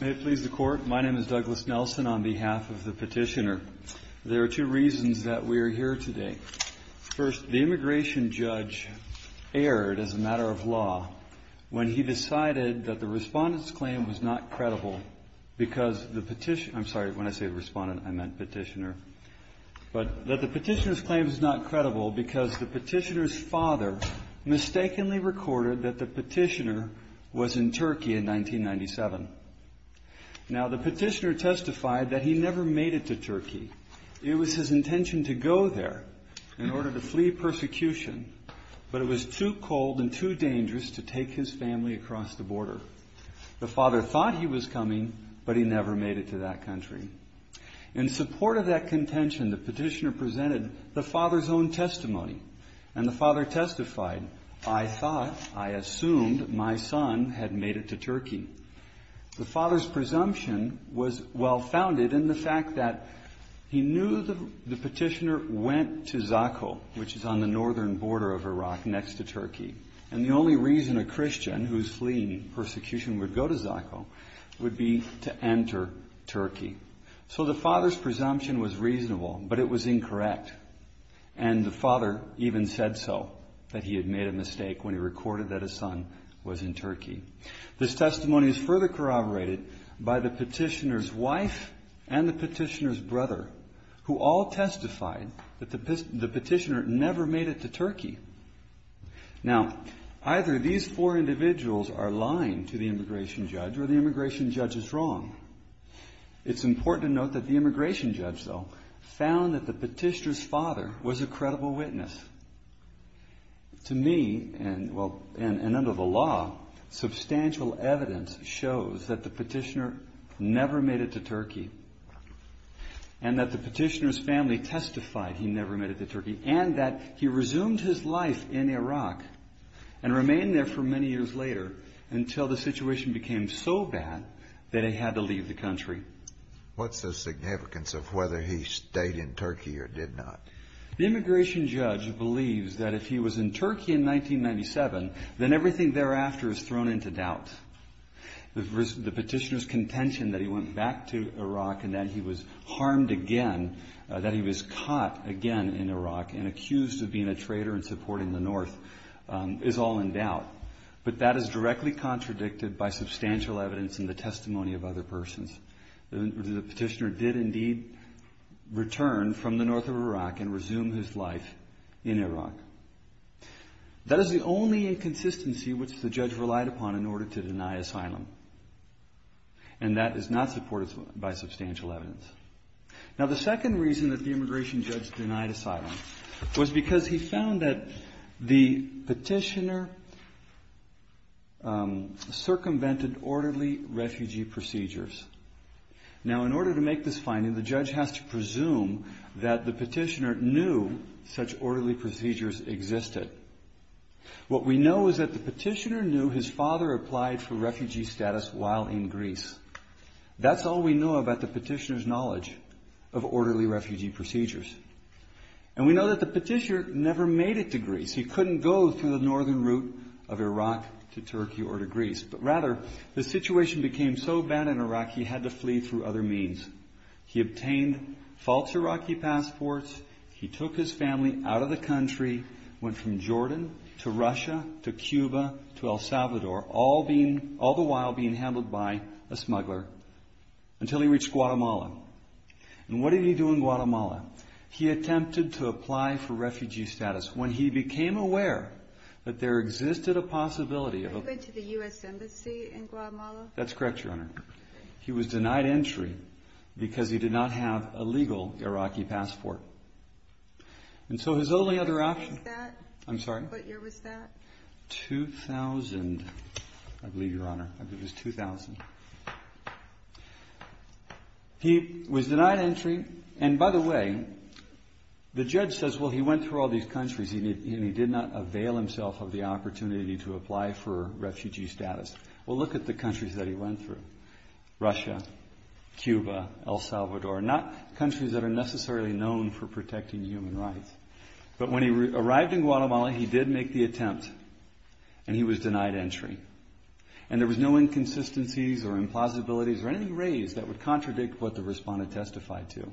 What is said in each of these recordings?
May it please the Court, my name is Douglas Nelson on behalf of the petitioner. There are two reasons that we are here today. First, the immigration judge erred, as a matter of law, when he decided that the petitioner's claim was not credible because the petitioner's father mistakenly recorded that the petitioner was in Turkey in 1997. Now, the petitioner testified that he never made it to Turkey. It was his intention to go there in order to flee persecution, but it was too cold and too dangerous to take his family across the border. The father thought he was coming, but he never made it to that country. In support of that contention, the petitioner presented the father's own testimony, and the father testified, I thought, I assumed, my son had made it to Turkey. The father's presumption was well-founded in the fact that he knew the petitioner went to Zakho, which is on the northern border of Iraq next to Turkey, and the only reason a Christian whose fleeing persecution would go to Zakho would be to enter Turkey. So the father's presumption was reasonable, but it was incorrect, and the father even said so, that he had made a mistake when he recorded that his son was in Turkey. This testimony is further corroborated by the petitioner's wife and the petitioner's brother, who all testified that the petitioner never made it to Turkey. Now, either these four individuals are lying to the immigration judge or the immigration judge is wrong. It's important to note that the immigration judge, though, found that the petitioner's father was a credible witness. To me, and under the law, substantial evidence shows that the petitioner never made it to Turkey, and that the petitioner's family testified he never made it to Turkey, and that he resumed his life in Iraq and remained there for many years later until the situation became so bad that he had to leave the country. What's the significance of whether he stayed in Turkey or did not? The immigration judge believes that if he was in Turkey in 1997, then everything thereafter is thrown into doubt. The petitioner's contention that he went back to Iraq and that he was harmed again, that he was caught again in Iraq and accused of being a traitor and supporting the north, is all in doubt. But that is directly contradicted by substantial evidence in the testimony of other persons. The petitioner did indeed return from the north of Iraq and resume his life in Iraq. That is the only inconsistency which the judge relied upon in order to deny asylum, and that is not supported by substantial evidence. The second reason that the immigration judge denied asylum was because he found that the petitioner circumvented orderly refugee procedures. In order to make this finding, the judge has to presume that the petitioner knew such orderly procedures existed. What we know is that the petitioner knew his father applied for refugee status while in Greece. That's all we know about the petitioner's knowledge of orderly refugee procedures. And we know that the petitioner never made it to Greece. He couldn't go through the northern route of Iraq to Turkey or to Greece. But rather, the situation became so bad in Iraq, he had to flee through other means. He obtained false Iraqi passports. He took his family out of the country, went from Jordan to Russia to Cuba to El Salvador, all the while being handled by a smuggler until he reached Guatemala. And what did he do in Guatemala? He attempted to apply for refugee status. When he became aware that there existed a possibility of... Did he go to the U.S. Embassy in Guatemala? That's correct, Your Honor. He was denied entry because he did not have a legal Iraqi passport. And so his only other option... What year was that? 2000, I believe, Your Honor. I believe it was 2000. He was denied entry. And by the way, the judge says, well, he went through all these countries and he did not avail himself of the opportunity to apply for refugee status. Well, look at the countries that he went through. Russia, Cuba, El Salvador. Not countries that are necessarily known for protecting human rights. But when he arrived in Guatemala, he did make the attempt, and he was denied entry. And there was no inconsistencies or implausibilities or anything raised that would contradict what the respondent testified to.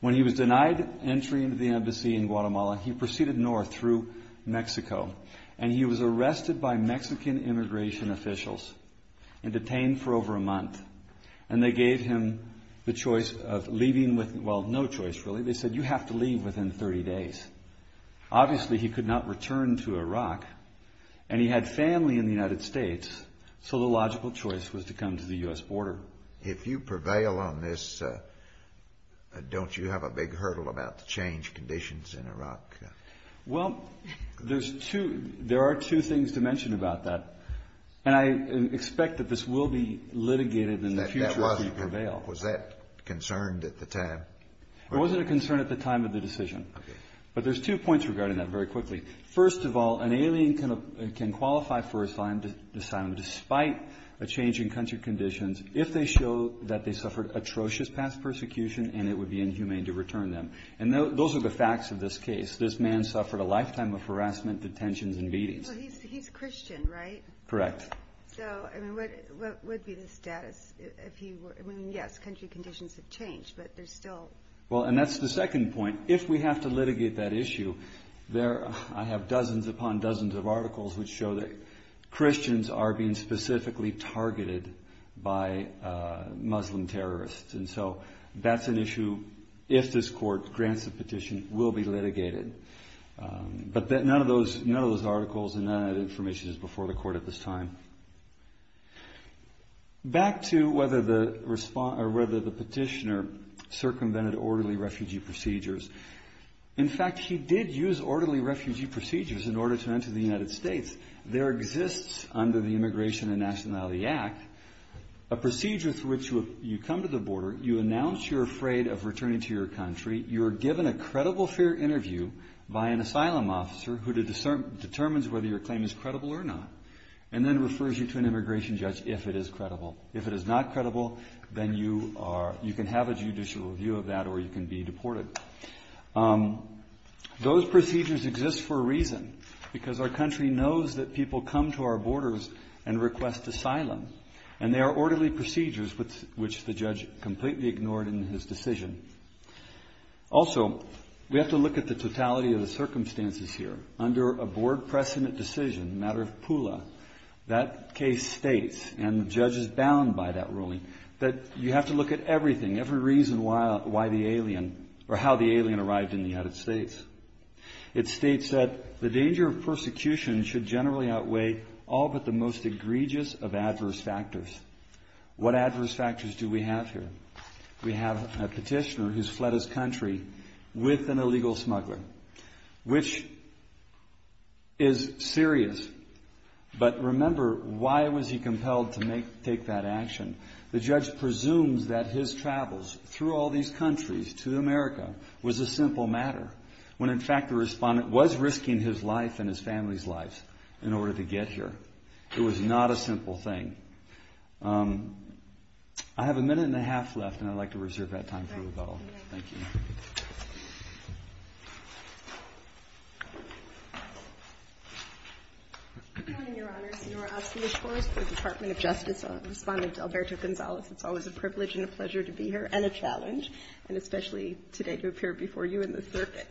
When he was denied entry into the embassy in Guatemala, he proceeded north through Mexico, and he was arrested by Mexican immigration officials and detained for over a month. And they gave him the choice of leaving with... Obviously, he could not return to Iraq. And he had family in the United States, so the logical choice was to come to the U.S. border. If you prevail on this, don't you have a big hurdle about the change of conditions in Iraq? Well, there are two things to mention about that. And I expect that this will be litigated in the future if we prevail. Was that concerned at the time? It wasn't a concern at the time of the decision. But there's two points regarding that very quickly. First of all, an alien can qualify for asylum despite a change in country conditions if they show that they suffered atrocious past persecution and it would be inhumane to return them. And those are the facts of this case. This man suffered a lifetime of harassment, detentions, and beatings. Well, he's Christian, right? Correct. So, I mean, what would be the status if he were? I mean, yes, country conditions have changed, but there's still... Well, and that's the second point. If we have to litigate that issue, I have dozens upon dozens of articles which show that Christians are being specifically targeted by Muslim terrorists. And so that's an issue, if this court grants the petition, will be litigated. But none of those articles and none of that information is before the court at this time. Back to whether the petitioner circumvented orderly refugee procedures. In fact, he did use orderly refugee procedures in order to enter the United States. There exists, under the Immigration and Nationality Act, a procedure through which you come to the border, you announce you're afraid of returning to your country, you're given a credible fair interview by an asylum officer who determines whether your claim is credible or not, and then refers you to an immigration judge if it is credible. If it is not credible, then you can have a judicial review of that or you can be deported. Those procedures exist for a reason, because our country knows that people come to our borders and request asylum, and they are orderly procedures which the judge completely ignored in his decision. Also, we have to look at the totality of the circumstances here. Under a Board precedent decision, the matter of Pula, that case states, and the judge is bound by that ruling, that you have to look at everything, every reason why the alien, or how the alien arrived in the United States. It states that the danger of persecution should generally outweigh all but the most egregious of adverse factors. What adverse factors do we have here? We have a petitioner who's fled his country with an illegal smuggler, which is serious, but remember why was he compelled to take that action. The judge presumes that his travels through all these countries to America was a simple matter, when in fact the respondent was risking his life and his family's lives in order to get here. It was not a simple thing. I have a minute and a half left, and I'd like to reserve that time for rebuttal. Thank you. Good morning, Your Honor. Senora Oski, of course, for the Department of Justice. Respondent Alberto Gonzalez, it's always a privilege and a pleasure to be here, and a challenge, and especially today to appear before you in the circuit.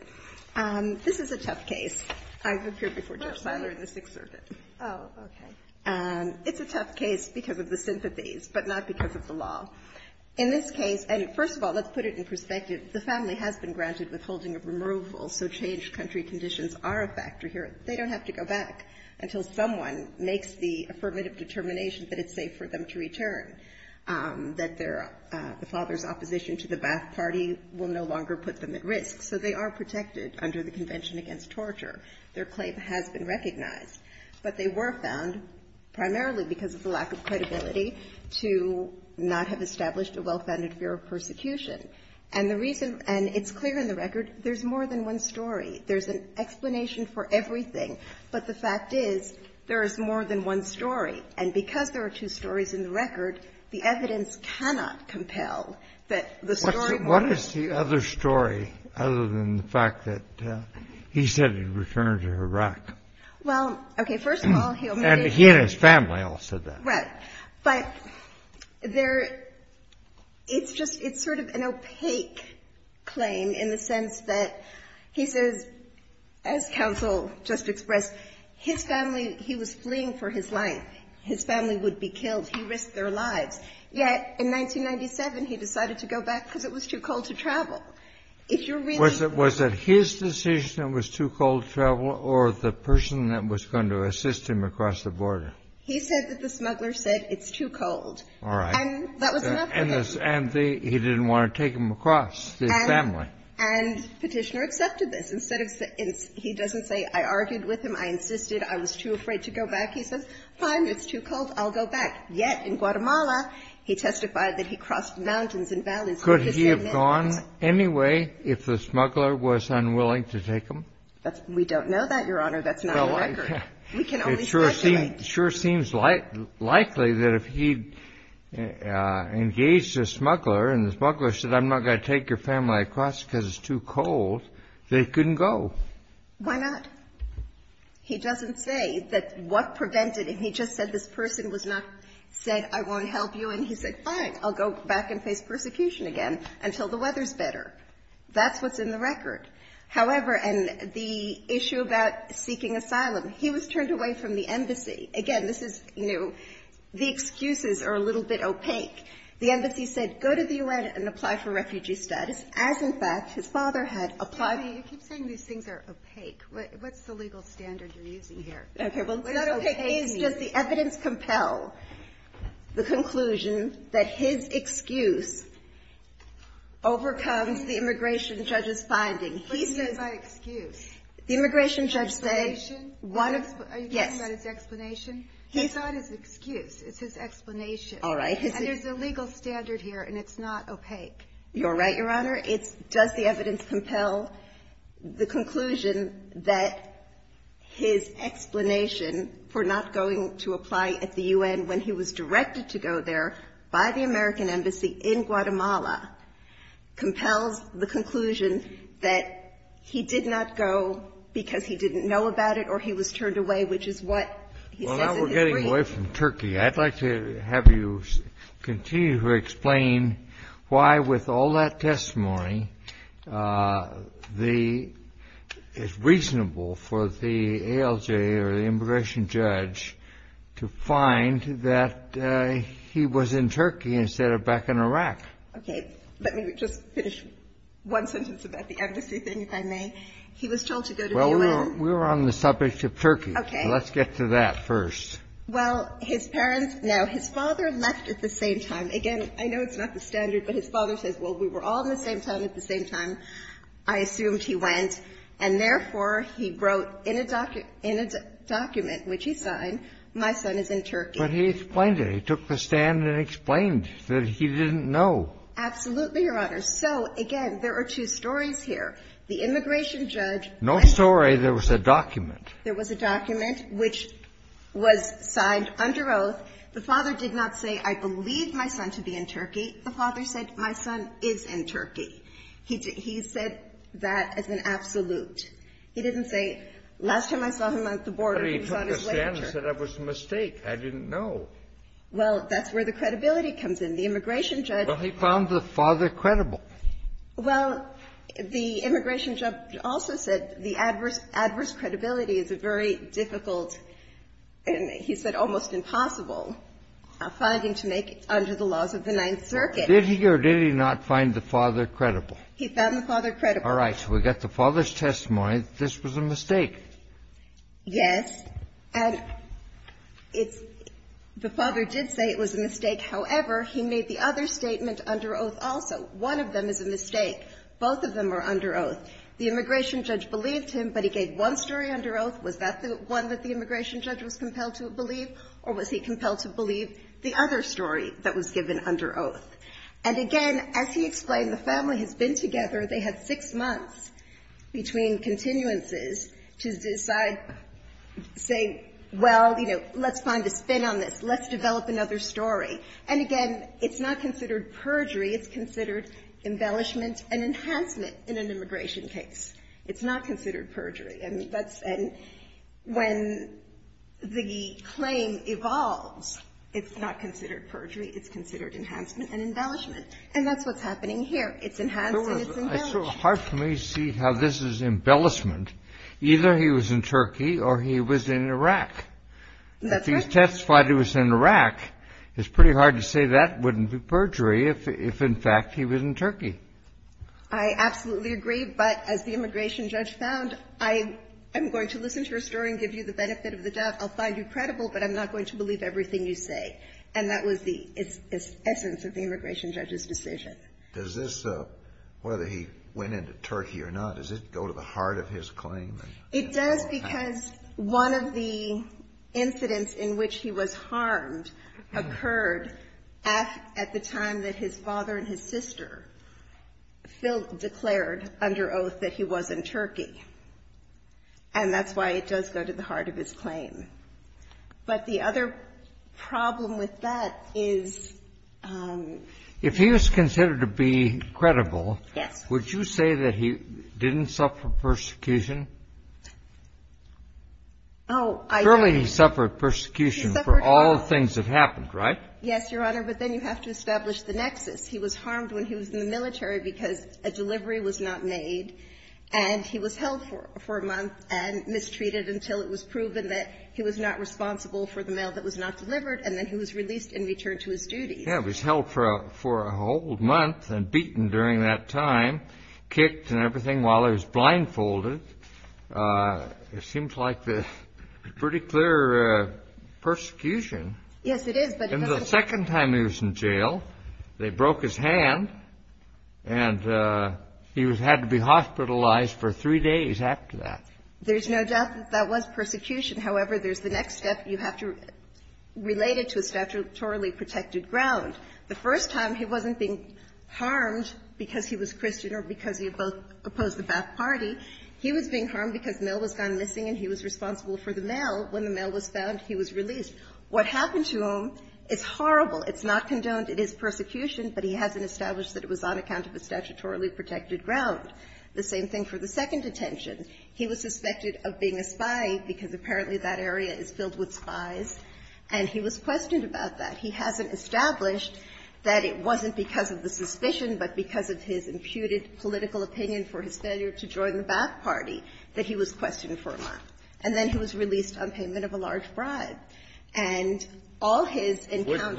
This is a tough case. I've appeared before Judge Siler in the Sixth Circuit. Oh, okay. It's a tough case because of the sympathies, but not because of the law. In this case, and first of all, let's put it in perspective, the family has been granted withholding of removal, so changed country conditions are a factor here. They don't have to go back until someone makes the affirmative determination that it's safe for them to return, that the father's opposition to the Ba'ath Party will no longer put them at risk. So they are protected under the Convention Against Torture. Their claim has been recognized. But they were found primarily because of the lack of credibility to not have established a well-founded fear of persecution. And the reason, and it's clear in the record, there's more than one story. There's an explanation for everything. But the fact is, there is more than one story. And because there are two stories in the record, the evidence cannot compel that the story more than one story. What is the other story, other than the fact that he said he'd return her to Iraq? Well, okay. First of all, he'll make a case. And he and his family all said that. Right. But there, it's just, it's sort of an opaque claim in the sense that he says, as counsel just expressed, his family, he was fleeing for his life. His family would be killed. He risked their lives. Yet in 1997, he decided to go back because it was too cold to travel. If you're really going to go back. Was it his decision it was too cold to travel, or the person that was going to assist him across the border? He said that the smuggler said, it's too cold. All right. And that was enough for them. And he didn't want to take them across, his family. And Petitioner accepted this. Instead of, he doesn't say, I argued with him. I insisted. I was too afraid to go back. He says, fine. It's too cold. I'll go back. Yet in Guatemala, he testified that he crossed mountains and valleys. Could he have gone anyway if the smuggler was unwilling to take them? We don't know that, Your Honor. That's not on the record. We can only speculate. It sure seems likely that if he engaged the smuggler and the smuggler said, I'm not going to take your family across because it's too cold, they couldn't go. Why not? He doesn't say that what prevented him. He just said this person was not said, I won't help you. And he said, fine. I'll go back and face persecution again until the weather's better. That's what's in the record. However, and the issue about seeking asylum, he was turned away from the embassy. Again, this is, you know, the excuses are a little bit opaque. The embassy said, go to the U.N. and apply for refugee status, as in fact his father had applied. You keep saying these things are opaque. What's the legal standard you're using here? Okay. Well, it's not opaque. It's just the evidence compel the conclusion that his excuse overcomes the immigration judge's finding. What do you mean by excuse? The immigration judge said. Explanation? Yes. Are you talking about his explanation? It's not his excuse. It's his explanation. All right. And there's a legal standard here and it's not opaque. You're right, Your Honor. It's does the evidence compel the conclusion that his explanation for not going to apply at the U.N. when he was directed to go there by the American embassy in Guatemala compels the conclusion that he did not go because he didn't know about it or he was turned away, which is what he says in his brief. Well, now we're getting away from Turkey. I'd like to have you continue to explain why, with all that testimony, it's reasonable for the ALJ or the immigration judge to find that he was in Turkey instead of back in Iraq. Okay. Let me just finish one sentence about the embassy thing, if I may. He was told to go to the U.N. Well, we're on the subject of Turkey. Okay. Let's get to that first. Well, his parents now, his father left at the same time. Again, I know it's not the standard, but his father says, well, we were all in the same town at the same time. I assumed he went and, therefore, he wrote in a document, which he signed, my son is in Turkey. But he explained it. He took the stand and explained that he didn't know. Absolutely, Your Honor. So, again, there are two stories here. The immigration judge and the father. No story. There was a document. There was a document, which was signed under oath. The father did not say, I believe my son to be in Turkey. The father said, my son is in Turkey. He said that as an absolute. He didn't say, last time I saw him at the border, he was on his way to Turkey. But he took the stand and said it was a mistake. I didn't know. Well, that's where the credibility comes in. The immigration judge. Well, he found the father credible. Well, the immigration judge also said the adverse credibility is a very difficult and, he said, almost impossible finding to make under the laws of the Ninth Circuit. Did he or did he not find the father credible? He found the father credible. All right. So we've got the father's testimony that this was a mistake. Yes. And the father did say it was a mistake. However, he made the other statement under oath also. One of them is a mistake. Both of them are under oath. The immigration judge believed him, but he gave one story under oath. Was that the one that the immigration judge was compelled to believe, or was he compelled to believe the other story that was given under oath? And, again, as he explained, the family has been together. They had six months between continuances to decide, say, well, you know, let's find a spin on this. Let's develop another story. And, again, it's not considered perjury. It's considered embellishment and enhancement in an immigration case. It's not considered perjury. And that's when the claim evolves, it's not considered perjury. It's considered enhancement and embellishment. And that's what's happening here. It's enhanced and it's embellished. It's sort of hard for me to see how this is embellishment. Either he was in Turkey or he was in Iraq. That's right. If he testified he was in Iraq, it's pretty hard to say that wouldn't be perjury if, in fact, he was in Turkey. I absolutely agree. But as the immigration judge found, I'm going to listen to your story and give you the benefit of the doubt. I'll find you credible, but I'm not going to believe everything you say. And that was the essence of the immigration judge's decision. Does this, whether he went into Turkey or not, does it go to the heart of his claim? It does because one of the incidents in which he was harmed occurred at the time that his father and his sister declared under oath that he was in Turkey. And that's why it does go to the heart of his claim. But the other problem with that is he was considered to be credible. Yes. Would you say that he didn't suffer persecution? Oh, I don't. Surely he suffered persecution for all the things that happened, right? Yes, Your Honor. But then you have to establish the nexus. He was harmed when he was in the military because a delivery was not made, and he was and mistreated until it was proven that he was not responsible for the mail that was not delivered, and then he was released and returned to his duties. Yes, he was held for a whole month and beaten during that time, kicked and everything, while he was blindfolded. It seems like a pretty clear persecution. Yes, it is. And the second time he was in jail, they broke his hand, and he had to be hospitalized for three days after that. There's no doubt that that was persecution. However, there's the next step. You have to relate it to a statutorily protected ground. The first time he wasn't being harmed because he was Christian or because he opposed the Ba'ath Party. He was being harmed because mail was gone missing and he was responsible for the mail. When the mail was found, he was released. What happened to him is horrible. It's not condoned. It is persecution, but he hasn't established that it was on account of a statutorily protected ground. The same thing for the second detention. He was suspected of being a spy because apparently that area is filled with spies, and he was questioned about that. He hasn't established that it wasn't because of the suspicion, but because of his imputed political opinion for his failure to join the Ba'ath Party, that he was questioned for a month. And then he was released on payment of a large bribe. And all his encounters were the same. Kennedy,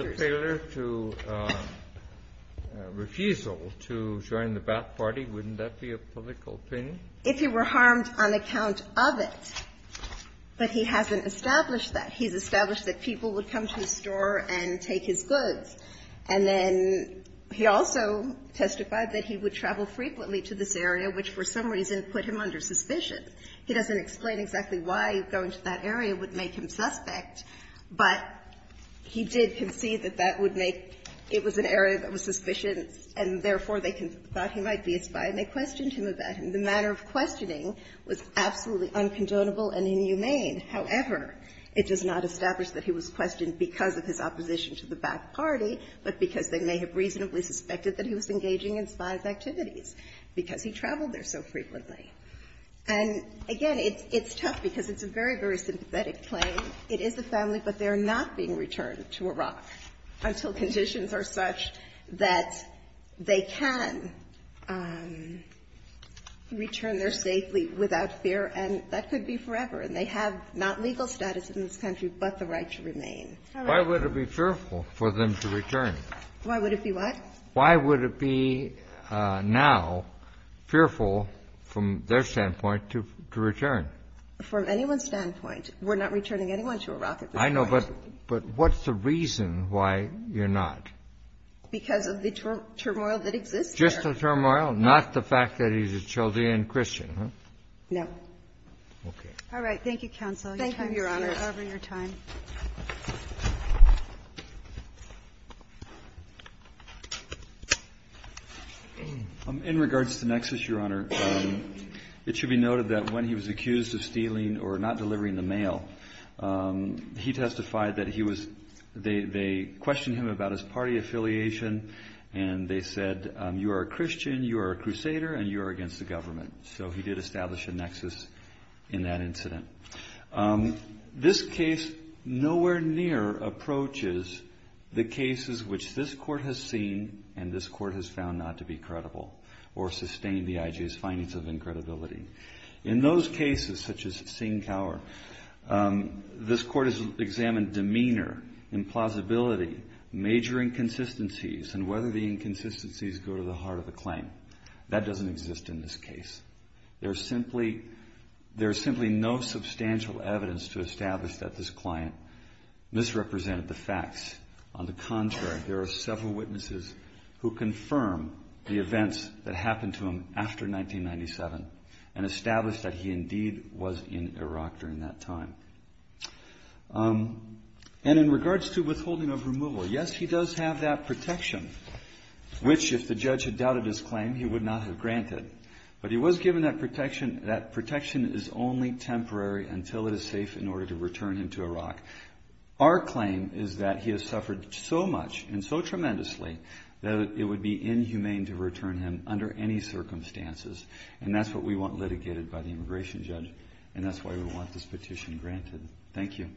wouldn't that be a public opinion? If he were harmed on account of it. But he hasn't established that. He's established that people would come to his store and take his goods. And then he also testified that he would travel frequently to this area, which for some reason put him under suspicion. He doesn't explain exactly why going to that area would make him suspect, but he did concede that that would make it was an area that was suspicious, and therefore they thought he might be a spy, and they questioned him about him. The manner of questioning was absolutely uncondonable and inhumane. However, it does not establish that he was questioned because of his opposition to the Ba'ath Party, but because they may have reasonably suspected that he was engaging in spy activities because he traveled there so frequently. And again, it's tough because it's a very, very sympathetic claim. It is the family, but they are not being returned to Iraq until conditions are such that they can return there safely without fear, and that could be forever. And they have not legal status in this country but the right to remain. All right. Why would it be fearful for them to return? Why would it be what? Why would it be now fearful from their standpoint to return? From anyone's standpoint, we're not returning anyone to Iraq at this point. I know, but what's the reason why you're not? Because of the turmoil that exists there. Just the turmoil, not the fact that he's a Chaldean Christian, huh? No. Okay. All right. Thank you, counsel. Thank you, Your Honor, for your time. of stealing or not delivering the mail. He testified that they questioned him about his party affiliation, and they said, you are a Christian, you are a crusader, and you are against the government. So he did establish a nexus in that incident. This case nowhere near approaches the cases which this court has seen and this court has found not to be credible or sustain the IJ's findings of incredibility. In those cases, such as Singh-Kaur, this court has examined demeanor, implausibility, major inconsistencies, and whether the inconsistencies go to the heart of the claim. That doesn't exist in this case. There's simply no substantial evidence to establish that this client misrepresented the facts. On the contrary, there are several witnesses who confirm the events that happened to him after 1997 and establish that he indeed was in Iraq during that time. And in regards to withholding of removal, yes, he does have that protection, which if the judge had doubted his claim, he would not have granted. But he was given that protection. That protection is only temporary until it is safe in order to return him to Iraq. Our claim is that he has suffered so much and so tremendously that it would be inhumane to return him under any circumstances. And that's what we want litigated by the immigration judge. And that's why we want this petition granted. Thank you.